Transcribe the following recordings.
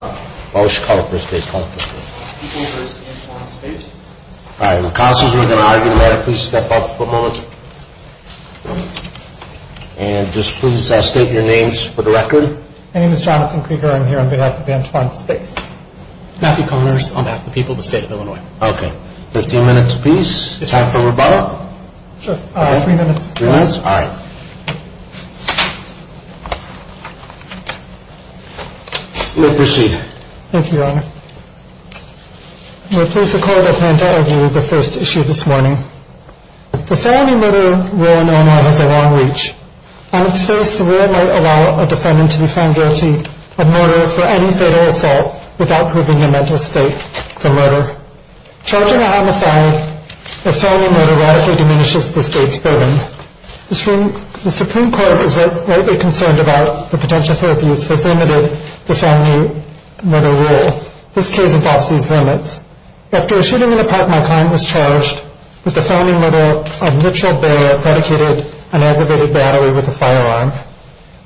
on behalf of the people of the state of Illinois. The felony murder law in Illinois has a long reach. On its face, the law might allow a defendant to be found guilty of murder for any fatal assault without proving the mental state for murder. Charging a homicide as felony murder radically diminishes the state's burden. The Supreme Court is rightly concerned about the potential for abuse has limited the felony murder rule. This case involves these limits. After a shooting in a park, my client was charged with the felony murder of Mitchell Bear, a predicated and aggravated battery with a firearm.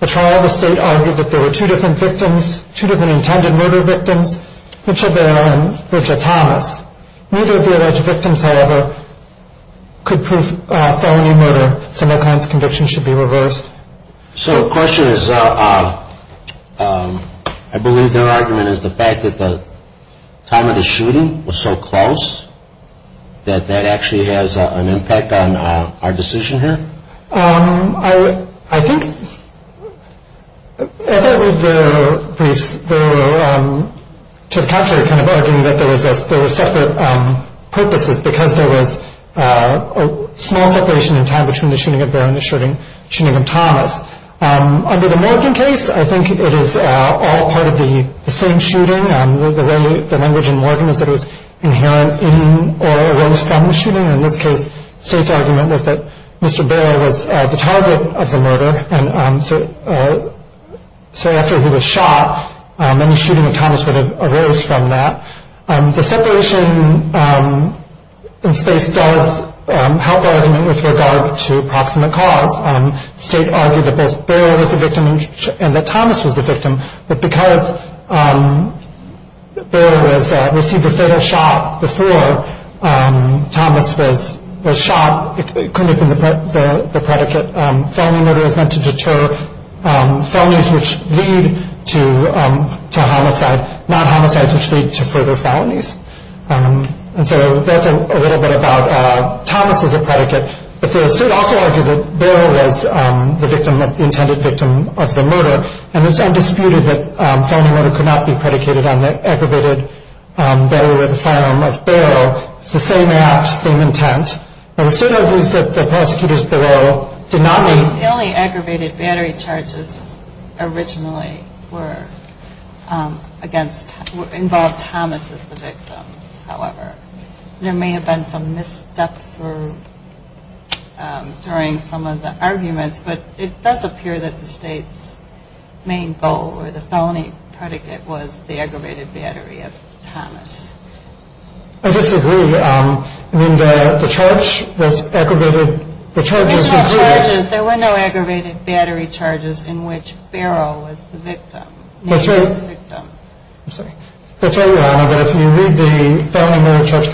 The trial of the state argued that there were two different intended murder victims, Mitchell Bear and Virgia Thomas. Neither of the alleged victims, however, could prove felony murder, so my client's conviction should be reversed. So the question is, I believe their argument is the fact that the time of the shooting was so close that that actually has an impact on our decision here? I think, as I read the briefs, they were to the contrary kind of arguing that there were separate purposes because there was a small separation in time between the shooting of Bear and the shooting of Thomas. Under the Morgan case, I think it is all part of the same shooting. The language in Morgan is that it was inherent in or arose from the shooting. In this case, the state's argument was that Mr. Bear was the target of the murder, and so after he was shot, any shooting of Thomas would have arose from that. The separation in space does help our argument with regard to approximate cause. The state argued that both Bear was the victim and that Thomas was the victim, but because Bear received a fatal shot before Thomas was shot, it couldn't have been the predicate. The state argued that felony murder was meant to deter felonies which lead to homicide, not homicides which lead to further felonies, and so that's a little bit about Thomas as a predicate, but the state also argued that Bear was the intended victim of the murder, and it's undisputed that felony murder could not be predicated on the aggravated burial with a firearm of Bear. It's the same act, same intent. There were no aggravated battery charges in which Bear was the victim. That's right. I'm sorry. That's right, Your Honor, but if you read the felony murder charge,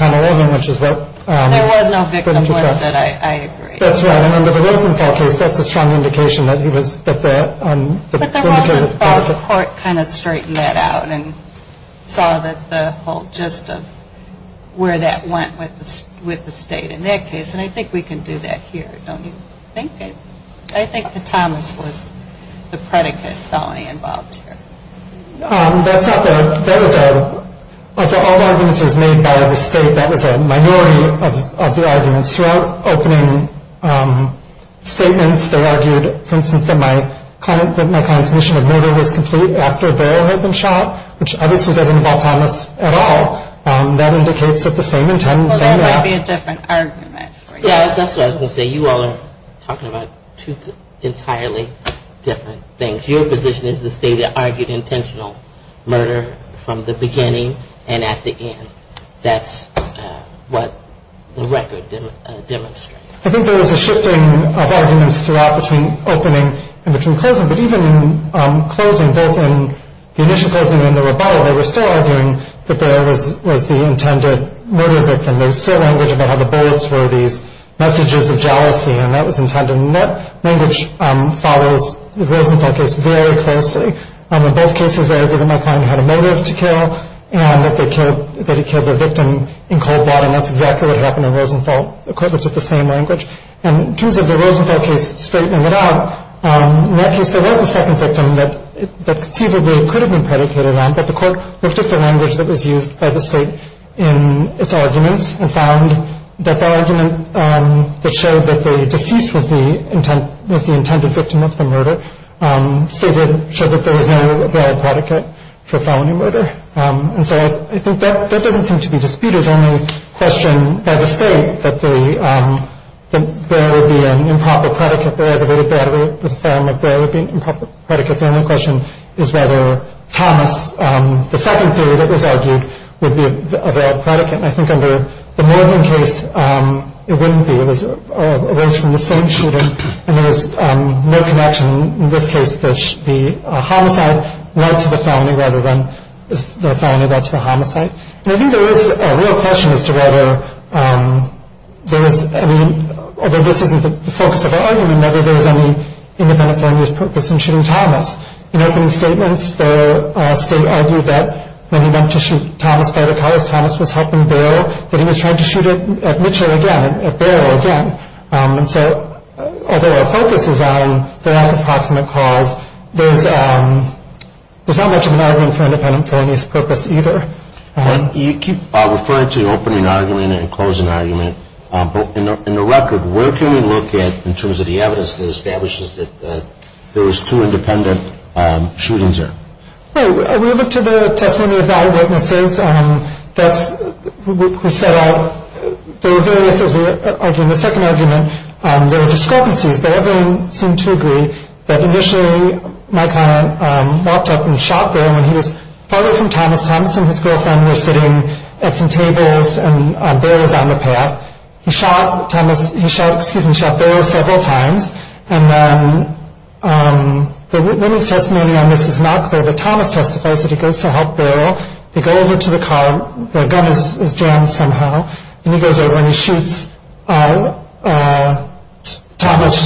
which is what... There was no victim, was there? I agree. That's right, and under the Rosenfeld case, that's a strong indication that he was... But the Rosenfeld court kind of straightened that out and saw that the whole gist of where that went with the state in that case, and I think we can do that here, don't you think? I think that Thomas was the predicate felony involved here. That's not the... That was a... Of all the arguments made by the state, that was a minority of the arguments. Throughout opening statements, they argued, for instance, that my client's mission of murder was complete after Bear had been shot, which obviously doesn't involve Thomas at all. That indicates that the same intent, the same act... Well, that might be a different argument for you. Yeah, that's what I was going to say. You all are talking about two entirely different things. Your position is the state argued intentional murder from the beginning and at the end. That's what the record demonstrates. I think there was a shifting of arguments throughout between opening and between closing, but even in closing, both in the initial closing and the rebuttal, they were still arguing that Bear was the intended murder victim. There was still language about how the bullets were these messages of jealousy, and that was intended. That language follows the Rosenthal case very closely. In both cases, they argued that my client had a motive to kill and that he killed the victim in cold blood, and that's exactly what happened in Rosenthal. The court looked at the same language. In terms of the Rosenthal case straightening it out, in that case, there was a second victim that conceivably could have been predicated on, but the court looked at the language that was used by the state in its arguments and found that the argument that showed that the deceased was the intended victim of the murder showed that there was no valid predicate for felony murder. And so I think that doesn't seem to be disputed. It's only a question by the state that Bear would be an improper predicate. The only question is whether Thomas, the second theory that was argued, would be a valid predicate. And I think under the Morgan case, it wouldn't be. It was a case from the same shooting, and there was no connection. In this case, the homicide led to the felony rather than the felony led to the homicide. And I think there is a real question as to whether there is anyóalthough this isn't the focus of our argumentó whether there is any independent felony's purpose in shooting Thomas. In opening statements, the state argued that when he went to shoot Thomas by the car, because Thomas was helping Bear, that he was trying to shoot at Mitchell again, at Bear again. And so although our focus is on the approximate cause, there's not much of an argument for independent felony's purpose either. You keep referring to the opening argument and closing argument, but in the record, where can we look at in terms of the evidence that establishes that there was two independent shootings there? We look to the testimony of eyewitnesses. That's what we set out. There were various, as we argued in the second argument, there were discrepancies, but everyone seemed to agree that initially my client walked up and shot Bear when he was farther from Thomas. Thomas and his girlfriend were sitting at some tables, and Bear was on the path. He shot Bear several times, and the witness testimony on this is not clear, but Thomas testifies that he goes to help Bear. They go over to the car. The gun is jammed somehow, and he goes over and he shoots Thomas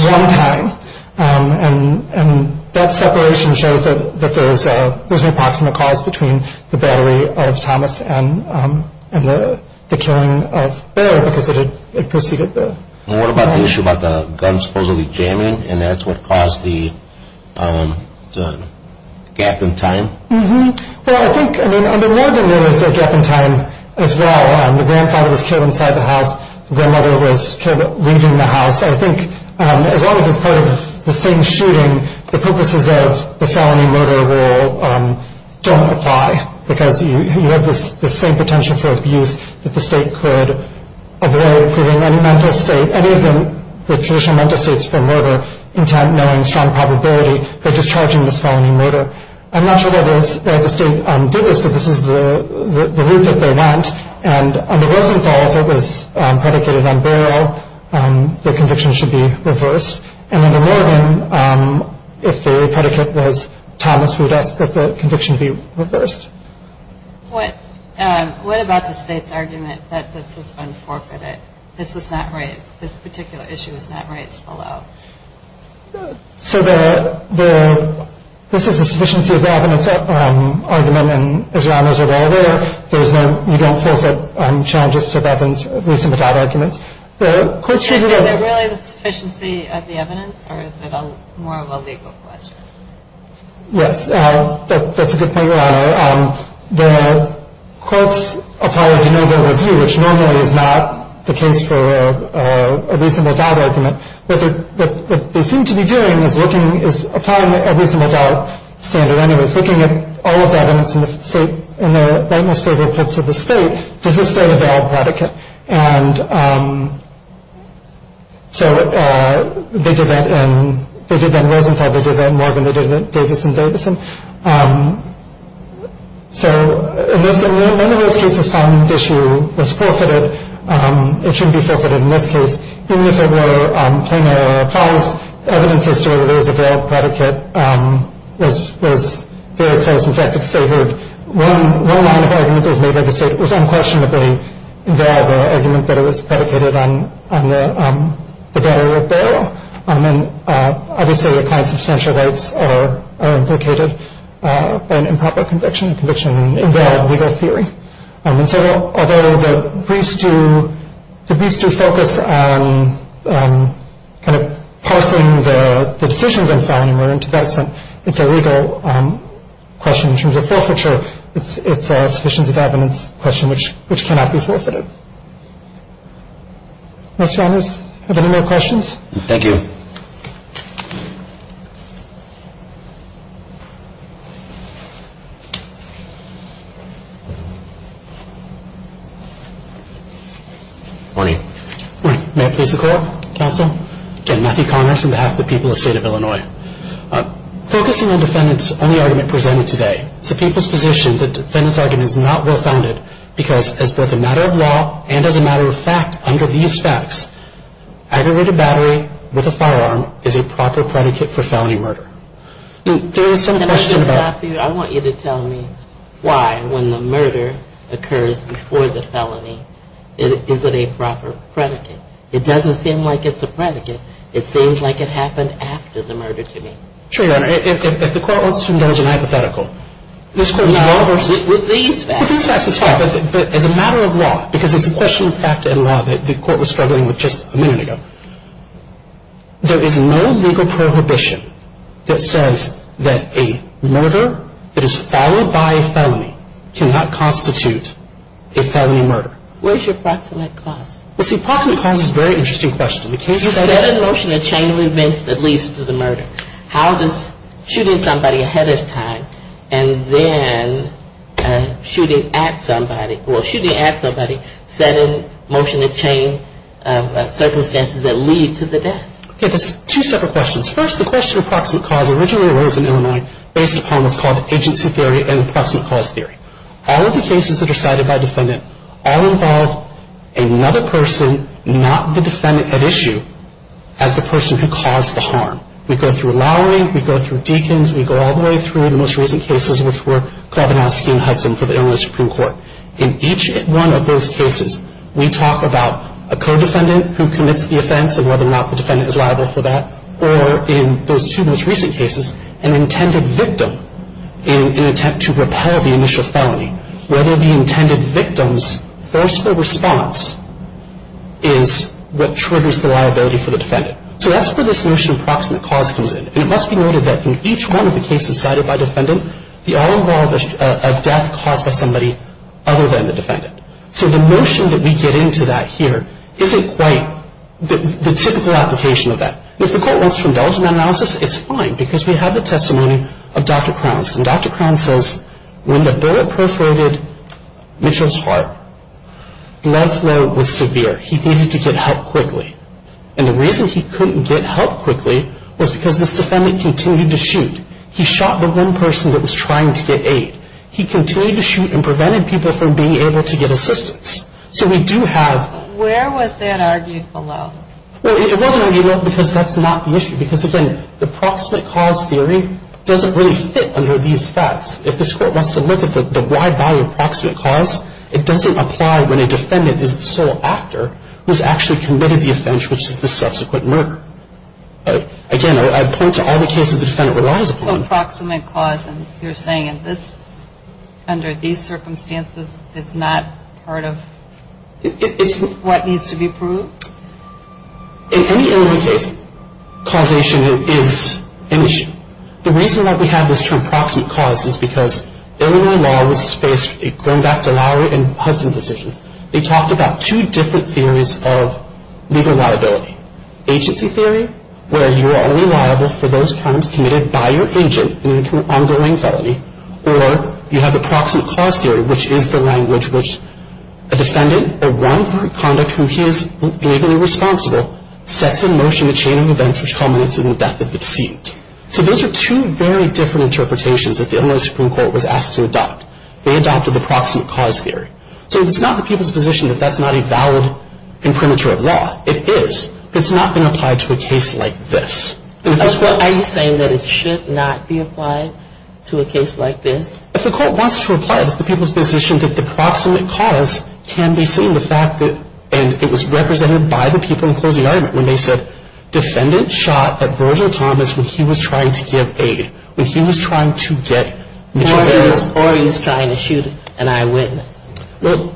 one time, and that separation shows that there's an approximate cause between the battery of Thomas and the killing of Bear because it preceded the gun. The issue about the gun supposedly jamming, and that's what caused the gap in time? Well, I think there was a gap in time as well. The grandfather was killed inside the house. The grandmother was killed leaving the house. I think as long as it's part of the same shooting, the purposes of the felony murder rule don't apply because you have the same potential for abuse that the state could avoid by approving any mental state, any of the traditional mental states for murder, intent, knowing, strong probability, by discharging this felony murder. I'm not sure where the state did this, but this is the route that they went, and under Rosenthal, if it was predicated on Bear, the conviction should be reversed, and under Morgan, if they predicate this, Thomas would ask that the conviction be reversed. What about the state's argument that this was unforfeited? This was not raised. This particular issue was not raised below. So this is a sufficiency of evidence argument, and as Your Honors are aware, you don't forfeit challenges to evidence based on bad arguments. Is it really the sufficiency of the evidence, or is it more of a legal question? Yes. That's a good point, Your Honor. The courts apply a de novo review, which normally is not the case for a reasonable doubt argument, but what they seem to be doing is applying a reasonable doubt standard. And it was looking at all of the evidence in the state, and they're rightmost favorable to the state, does this state a valid predicate? And so they did that in Rosenthal. They did that in Morgan. They did it in Davison. Davison. So in those cases, one of those cases found the issue was forfeited. It shouldn't be forfeited in this case. Even if it were a plain error clause, evidence as to whether there was a valid predicate was very close. In fact, if they heard one line of argument that was made by the state, it was unquestionably a valid argument that it was predicated on the barrier of bail. And obviously, the kind of substantial rights are implicated by an improper conviction, and conviction invalid legal theory. And so although the briefs do focus on kind of parsing the decisions in filing, it's a legal question in terms of forfeiture. It's a sufficiency of evidence question which cannot be forfeited. Mr. Onus, do you have any more questions? Thank you. Good morning. Good morning. May I please have the floor, counsel? Again, Matthew Congress on behalf of the people of the state of Illinois. Focusing on the defendant's only argument presented today, it's the people's position that the defendant's argument is not well-founded because as both a matter of law and as a matter of fact under these facts, aggravated battery with a firearm is a proper predicate for felony murder. There is some question about I want you to tell me why when the murder occurs before the felony, is it a proper predicate? It doesn't seem like it's a predicate. It seems like it happened after the murder to me. Sure, Your Honor. If the court wants to indulge in hypothetical, this court's law versus No, with these facts. With these facts, it's fine. But as a matter of law, because it's a question of fact and law that the court was struggling with just a minute ago, there is no legal prohibition that says that a murder that is followed by a felony cannot constitute a felony murder. Where's your proximate cause? Well, see, proximate cause is a very interesting question. You set in motion a chain of events that leads to the murder. How does shooting somebody ahead of time and then shooting at somebody or shooting at somebody set in motion a chain of circumstances that lead to the death? Okay, that's two separate questions. First, the question of proximate cause originally arose in Illinois based upon what's called the agency theory and the proximate cause theory. All of the cases that are cited by a defendant all involve another person, not the defendant at issue, as the person who caused the harm. We go through Lowery. We go through Deakins. We go all the way through the most recent cases, which were Klobinowski and Hudson for the Illinois Supreme Court. In each one of those cases, we talk about a co-defendant who commits the offense and whether or not the defendant is liable for that, or in those two most recent cases, an intended victim in an attempt to repel the initial felony, whether the intended victim's forceful response is what triggers the liability for the defendant. So that's where this notion of proximate cause comes in. And it must be noted that in each one of the cases cited by a defendant, they all involve a death caused by somebody other than the defendant. So the notion that we get into that here isn't quite the typical application of that. And if the court wants to indulge in that analysis, it's fine, because we have the testimony of Dr. Crowns. And Dr. Crowns says when the bullet perforated Mitchell's heart, blood flow was severe. He needed to get help quickly. And the reason he couldn't get help quickly was because this defendant continued to shoot. He shot the one person that was trying to get aid. He continued to shoot and prevented people from being able to get assistance. So we do have— Where was that argued below? Well, it wasn't argued below because that's not the issue. Because, again, the proximate cause theory doesn't really fit under these facts. If this court wants to look at the wide value of proximate cause, it doesn't apply when a defendant is the sole actor who's actually committed the offense, which is the subsequent murder. Again, I point to all the cases the defendant relies upon. So proximate cause, and you're saying under these circumstances, is not part of what needs to be proved? In any Illinois case, causation is an issue. The reason why we have this term proximate cause is because Illinois law was based, going back to Lowry and Hudson decisions, they talked about two different theories of legal liability. Agency theory, where you are only liable for those crimes committed by your agent in an ongoing felony. Or you have the proximate cause theory, which is the language which a defendant, a wrongful conduct whom he is legally responsible, sets in motion a chain of events which culminates in the death of the deceived. So those are two very different interpretations that the Illinois Supreme Court was asked to adopt. They adopted the proximate cause theory. So it's not the people's position that that's not a valid and premature law. It is. It's not been applied to a case like this. Are you saying that it should not be applied to a case like this? If the court wants to apply it, it's not the people's position that the proximate cause can be seen. And it was represented by the people in closing argument when they said, defendant shot at Virgil Thomas when he was trying to give aid, when he was trying to get material. Or he was trying to shoot an eyewitness.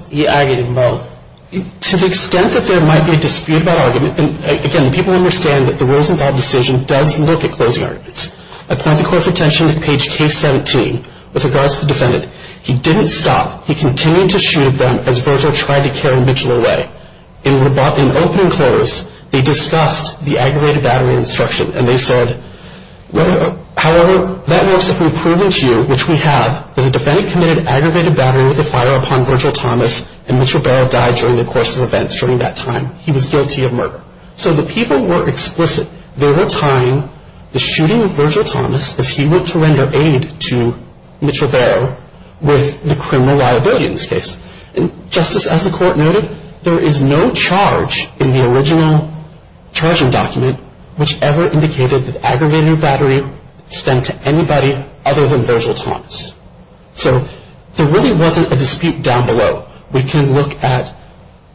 He argued in both. To the extent that there might be a dispute about argument, and again people understand that the Rosenthal decision does look at closing arguments. I point the court's attention to page K17 with regards to the defendant. He didn't stop. He continued to shoot at them as Virgil tried to carry Mitchell away. In opening clause, they discussed the aggravated battery instruction, and they said, however, that works if we've proven to you, which we have, that the defendant committed aggravated battery with a fire upon Virgil Thomas, and Mitch Ribeiro died during the course of events during that time. He was guilty of murder. So the people were explicit. They were tying the shooting of Virgil Thomas as he went to render aid to Mitch Ribeiro with the criminal liability in this case. Justice, as the court noted, there is no charge in the original charging document which ever indicated that aggravated battery stent to anybody other than Virgil Thomas. So there really wasn't a dispute down below. We can look at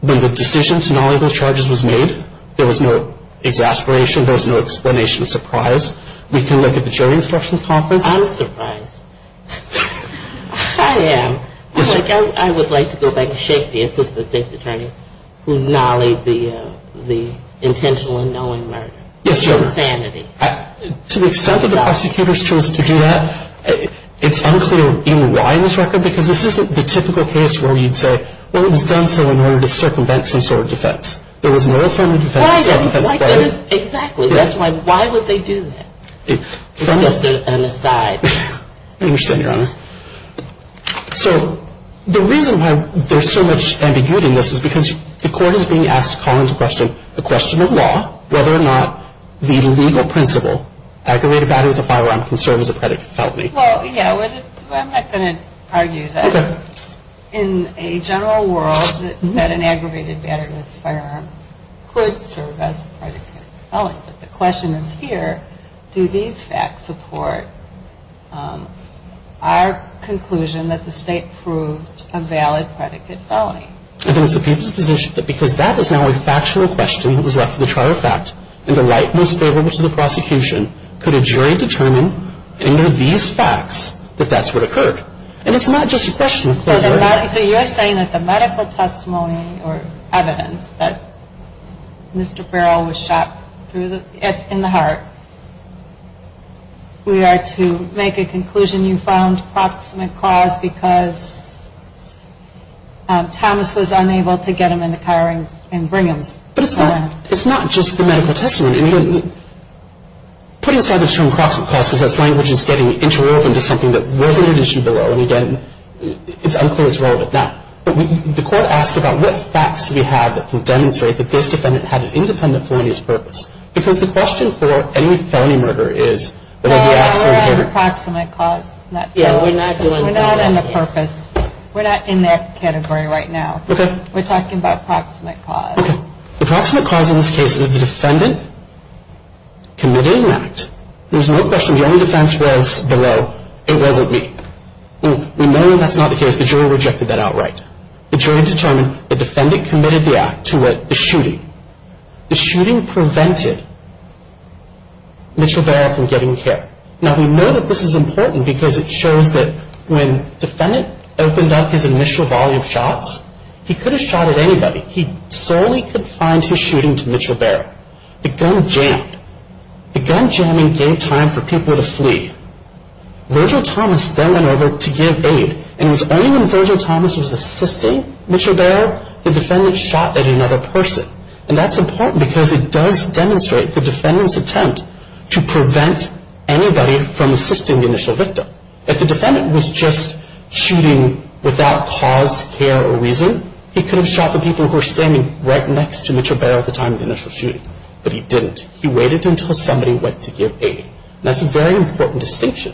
when the decision to not label charges was made, there was no exasperation, there was no explanation of surprise. We can look at the jury instructions conference. I'm surprised. I am. I would like to go back and shake the assistant state's attorney who nollied the intentional and knowing murder. Yes, Your Honor. To the extent that the prosecutors chose to do that, it's unclear even why in this record because this isn't the typical case where you'd say, well, it was done so in order to circumvent some sort of defense. There was no affirmative defense. Exactly. That's why. Why would they do that? It's just an aside. I understand, Your Honor. So the reason why there's so much ambiguity in this is because the court is being asked to call into question the question of law whether or not the legal principle, aggravated battery with a firearm can serve as a predicate for felony. Well, yeah. I'm not going to argue that. Okay. In a general world, that an aggravated battery with a firearm could serve as a predicate for felony. But the question is here, do these facts support our conclusion that the state proved a valid predicate felony? I think it's the people's position that because that is now a factional question that was left for the trial of fact and the light was favorable to the prosecution, could a jury determine under these facts that that's what occurred? And it's not just a question of causality. So you're saying that the medical testimony or evidence that Mr. Barrow was shot in the heart, we are to make a conclusion you found proximate cause because Thomas was unable to get him in the car and bring him. But it's not just the medical testimony. Putting aside the term proximate cause because that language is getting interwoven to something that wasn't an issue below. And again, it's unclear it's relevant. Now, the court asked about what facts do we have that can demonstrate that this defendant had an independent felony as purpose? Because the question for any felony murder is that it would be an accident. We're not in the proximate cause. We're not in the purpose. We're not in that category right now. Okay. We're talking about proximate cause. Okay. Now, the proximate cause in this case is that the defendant committed an act. There's no question the only defense was below. It wasn't me. We know that's not the case. The jury rejected that outright. The jury determined the defendant committed the act to what the shooting. The shooting prevented Mitchell Barrow from getting care. Now, we know that this is important because it shows that when defendant opened up his initial volume of shots, he could have shot at anybody. He solely could find his shooting to Mitchell Barrow. The gun jammed. The gun jamming gave time for people to flee. Virgil Thomas then went over to give aid. And it was only when Virgil Thomas was assisting Mitchell Barrow, the defendant shot at another person. And that's important because it does demonstrate the defendant's attempt to prevent anybody from assisting the initial victim. If the defendant was just shooting without cause, care, or reason, he could have shot the people who were standing right next to Mitchell Barrow at the time of the initial shooting. But he didn't. He waited until somebody went to give aid. And that's a very important distinction.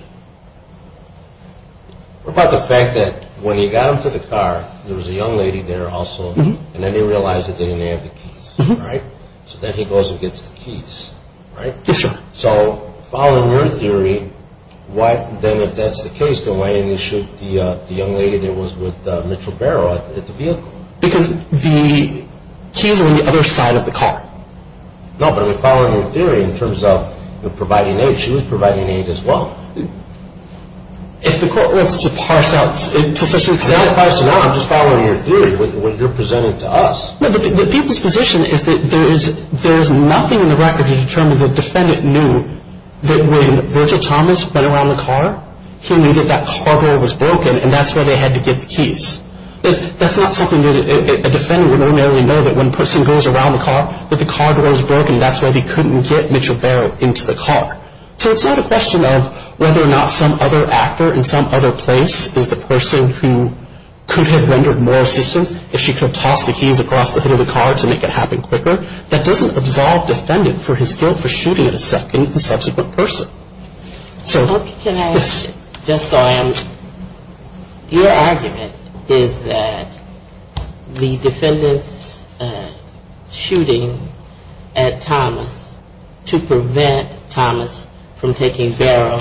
What about the fact that when he got into the car, there was a young lady there also, and then he realized that they didn't have the keys, right? So then he goes and gets the keys, right? Yes, Your Honor. So following your theory, then if that's the case, then why didn't he shoot the young lady that was with Mitchell Barrow at the vehicle? Because the keys were on the other side of the car. No, but I'm following your theory in terms of providing aid. She was providing aid as well. If the court wants to parse out to such an extent. I'm not parsing out. I'm just following your theory, what you're presenting to us. No, the people's position is that there is nothing in the record to determine the defendant knew that when Virgil Thomas went around the car, he knew that that car door was broken, and that's why they had to get the keys. That's not something that a defendant would ordinarily know, that when a person goes around the car, that the car door is broken, that's why they couldn't get Mitchell Barrow into the car. So it's not a question of whether or not some other actor in some other place is the person who could have rendered more assistance if she could have tossed the keys across the hood of the car to make it happen quicker. That doesn't absolve the defendant for his guilt for shooting at a subsequent person. Okay, can I ask you, just so I understand, your argument is that the defendant's shooting at Thomas to prevent Thomas from taking Barrow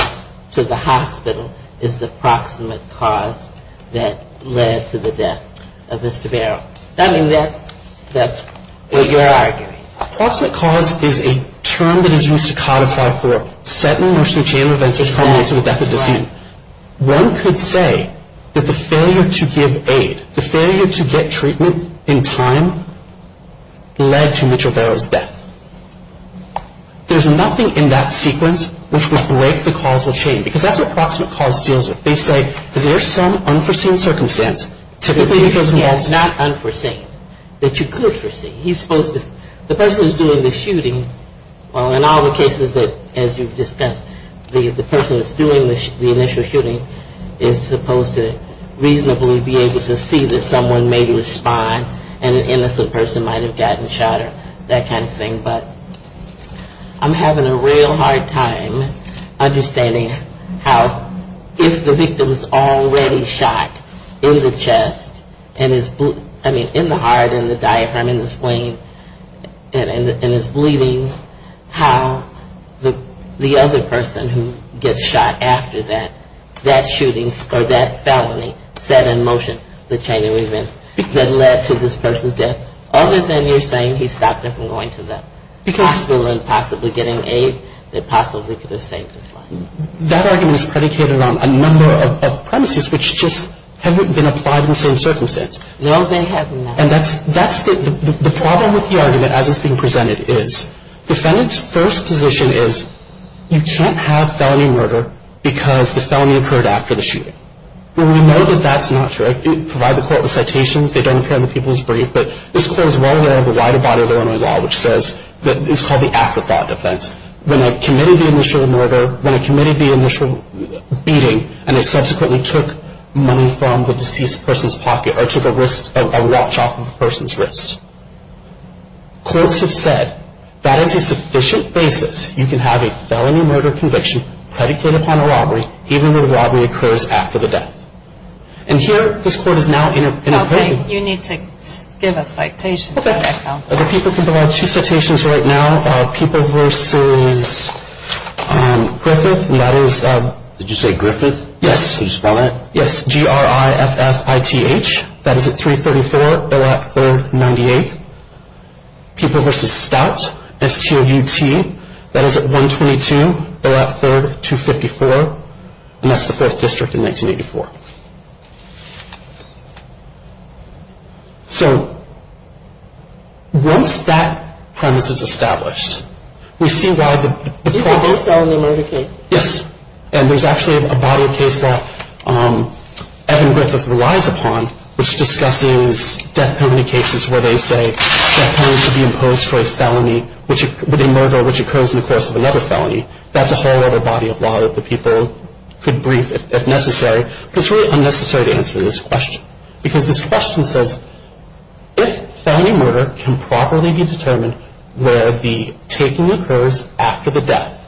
to the hospital is the proximate cause that led to the death of Mr. Barrow. I mean, that's what you're arguing. A proximate cause is a term that is used to codify for set in motion a chain of events which culminates in the death of a decedent. One could say that the failure to give aid, the failure to get treatment in time, led to Mitchell Barrow's death. There's nothing in that sequence which would break the causal chain, because that's what proximate cause deals with. They say, is there some unforeseen circumstance, because he has not unforeseen, that you could foresee. He's supposed to, the person who's doing the shooting, well, in all the cases that, as you've discussed, the person that's doing the initial shooting is supposed to reasonably be able to see that someone may respond and an innocent person might have gotten shot or that kind of thing. But I'm having a real hard time understanding how, if the victim is already shot in the chest and is, I mean, in the heart and the diaphragm and the spleen and is bleeding, how the other person who gets shot after that, that shooting, or that felony, set in motion the chain of events that led to this person's death, other than you're saying he stopped them from going to the hospital and possibly getting aid that possibly could have saved his life. That argument is predicated on a number of premises, which just haven't been applied in the same circumstance. No, they have not. And that's the problem with the argument, as it's being presented, is, defendant's first position is, you can't have felony murder because the felony occurred after the shooting. We know that that's not true. I provide the quote with citations. They don't appear in the People's Brief. But this quote is well aware of the wider body of Illinois law, which says that it's called the afterthought defense. When I committed the initial murder, when I committed the initial beating, and I subsequently took money from the deceased person's pocket or took a watch off of a person's wrist. Courts have said that as a sufficient basis, you can have a felony murder conviction predicated upon a robbery, even when a robbery occurs after the death. And here, this court is now in a position. You need to give a citation. People can provide two citations right now. People versus Griffith, and that is. Did you say Griffith? Yes. Did you spell that? Yes. G-R-I-F-F-I-T-H. That is at 334, Billette 3rd, 98. People versus Stout, S-T-O-U-T. That is at 122, Billette 3rd, 254. And that's the 4th District in 1984. So once that premise is established, we see why the court. These are both felony murder cases. Yes. And there's actually a body of case that Evan Griffith relies upon, which discusses death penalty cases where they say death penalty should be imposed for a murder which occurs in the course of another felony. That's a whole other body of law that the people could brief if necessary. But it's really unnecessary to answer this question because this question says, if felony murder can properly be determined where the taking occurs after the death,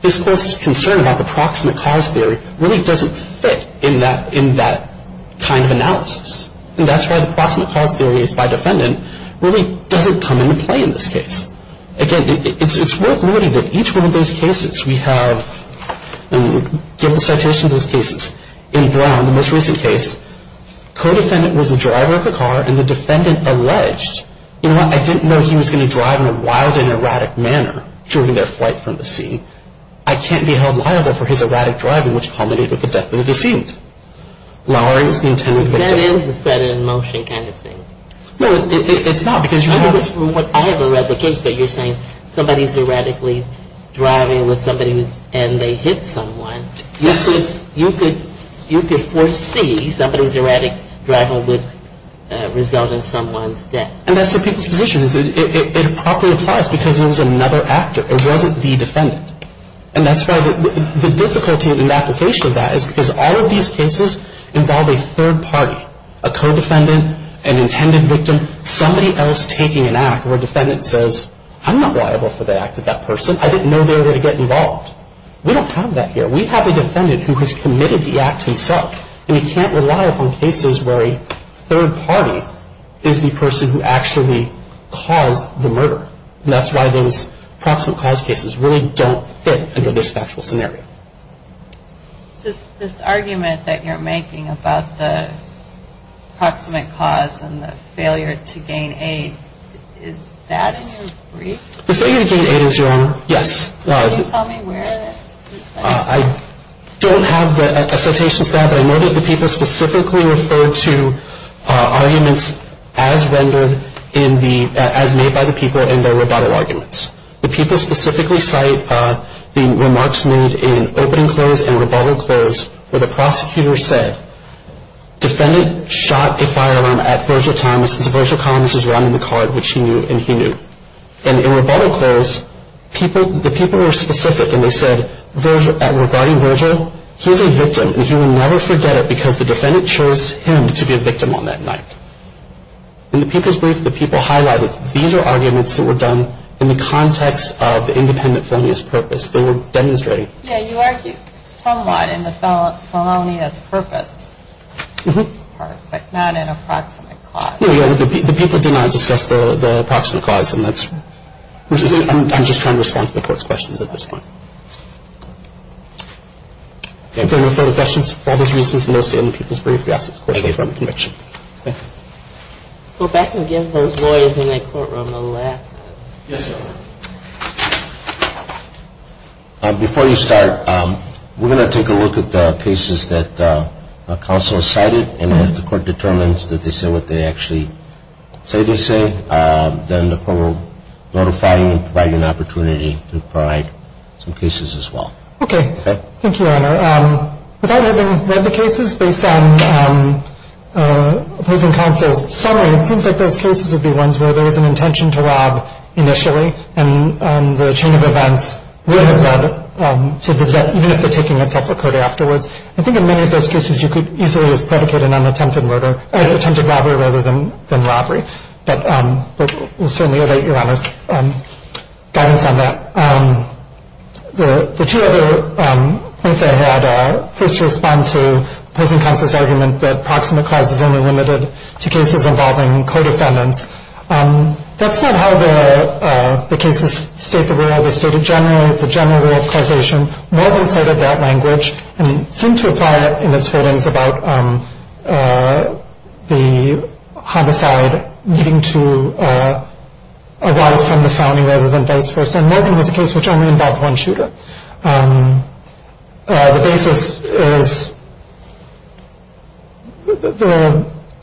this court's concern about the proximate cause theory really doesn't fit in that kind of analysis. And that's why the proximate cause theory is by defendant really doesn't come into play in this case. Again, it's worth noting that each one of those cases we have, and give the citation of those cases, in Brown, the most recent case, co-defendant was the driver of the car and the defendant alleged, you know what, I didn't know he was going to drive in a wild and erratic manner during their flight from the scene. I can't be held liable for his erratic driving which culminated with the death of the deceased. Lowering is the intended victim. That is a set in motion kind of thing. No, it's not because you have this. I haven't read the case, but you're saying somebody's erratically driving with somebody and they hit someone, you could foresee somebody's erratic driving would result in someone's death. And that's the people's position. It properly applies because it was another actor. It wasn't the defendant. And that's why the difficulty in the application of that is because all of these cases involve a third party, a co-defendant, an intended victim, somebody else taking an act where a defendant says, I'm not liable for the act of that person. I didn't know they were going to get involved. We don't have that here. We have a defendant who has committed the act himself, and he can't rely upon cases where a third party is the person who actually caused the murder. And that's why those proximate cause cases really don't fit under this factual scenario. This argument that you're making about the proximate cause and the failure to gain aid, is that in your brief? The failure to gain aid is, Your Honor, yes. Can you tell me where it is? I don't have a citation for that, but I know that the people specifically referred to arguments as rendered in the, as made by the people in their rebuttal arguments. The people specifically cite the remarks made in opening clause and rebuttal clause where the prosecutor said, defendant shot a firearm at Virgil Thomas which he knew and he knew. And in rebuttal clause, the people were specific and they said, regarding Virgil, he's a victim and he will never forget it because the defendant chose him to be a victim on that night. In the people's brief, the people highlighted, these are arguments that were done in the context of the independent felonious purpose. They were demonstrating. Yeah, you argued a lot in the felonious purpose part, but not in a proximate cause. Yeah, the people did not discuss the proximate cause and that's, I'm just trying to respond to the court's questions at this point. If there are no further questions, for all those reasons, in those statements in the people's brief, we ask that the court take them from the conviction. Thank you. Go back and give those lawyers in the courtroom the last time. Yes, Your Honor. Before you start, we're going to take a look at the cases that counsel has cited and if the court determines that they say what they actually say they say, then the court will notify you and provide you an opportunity to provide some cases as well. Thank you, Your Honor. Without having read the cases based on opposing counsel's summary, it seems like those cases would be ones where there was an intention to rob initially and the chain of events would have led to the death, even if the taking itself occurred afterwards. I think in many of those cases you could easily just predicate an attempted robbery rather than robbery. But we'll certainly await Your Honor's guidance on that. The two other points I had, first to respond to opposing counsel's argument that proximate cause is only limited to cases involving co-defendants, that's not how the cases state the rule. They state it generally. It's a general rule of causation. Morgan cited that language and seemed to apply it in its holdings about the homicide needing to arise from the founding rather than vice versa. And Morgan was a case which only involved one shooter. The basis is,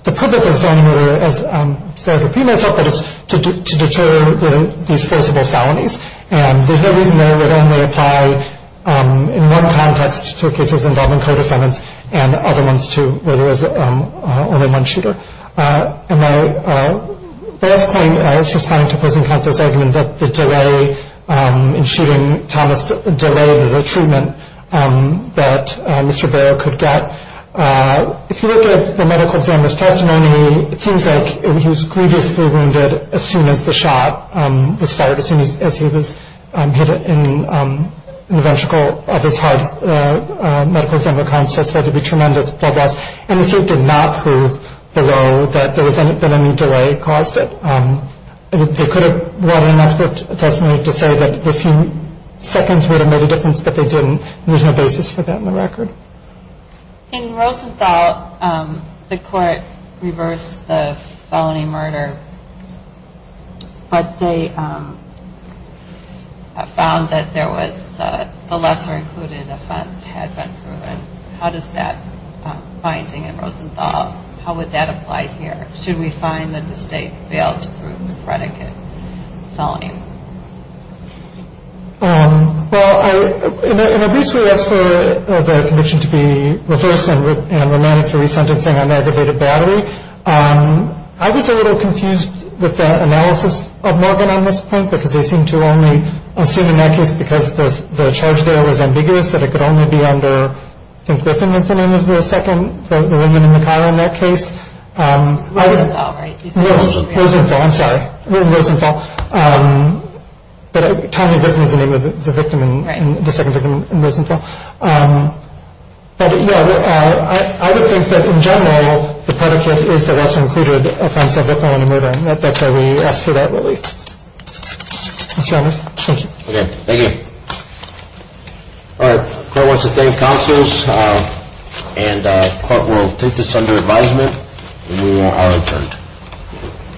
the purpose of felony murder, as I've repeated myself, is to deter these forcible felonies. And there's no reason there it would only apply in one context to cases involving co-defendants and other ones to where there was only one shooter. And my last point is responding to opposing counsel's argument that the delay in shooting Thomas delayed the treatment that Mr. Barrow could get. If you look at the medical examiner's testimony, it seems like he was grievously wounded as soon as the shot was fired, as soon as he was hit in the ventricle of his heart. The medical examiner testified there was tremendous blood loss. And the state did not prove, Barrow, that any delay caused it. They could have run an expert testimony to say that a few seconds would have made a difference, but they didn't, and there's no basis for that in the record. In Rosenthal, the court reversed the felony murder, but they found that there was the lesser-included offense had been proven. How does that finding in Rosenthal, how would that apply here? Should we find that the state failed to prove the predicate felony? Well, in a brief way, as for the conviction to be reversed and remanded for resentencing on aggravated battery, I was a little confused with the analysis of Morgan on this point because they seem to only assume in that case because the charge there was ambiguous that it could only be under, I think Griffin was the name of the second, the woman in the car in that case. Rosenthal, right? Rosenthal, I'm sorry, Rosenthal. But Tanya Griffin was the name of the second victim in Rosenthal. But, yeah, I would think that, in general, the predicate is the lesser-included offense of a felony murder, and that's why we asked for that relief. Mr. Anders, thank you. Okay, thank you. All right, the court wants to thank counsels, and the court will take this under advisement when we are adjourned.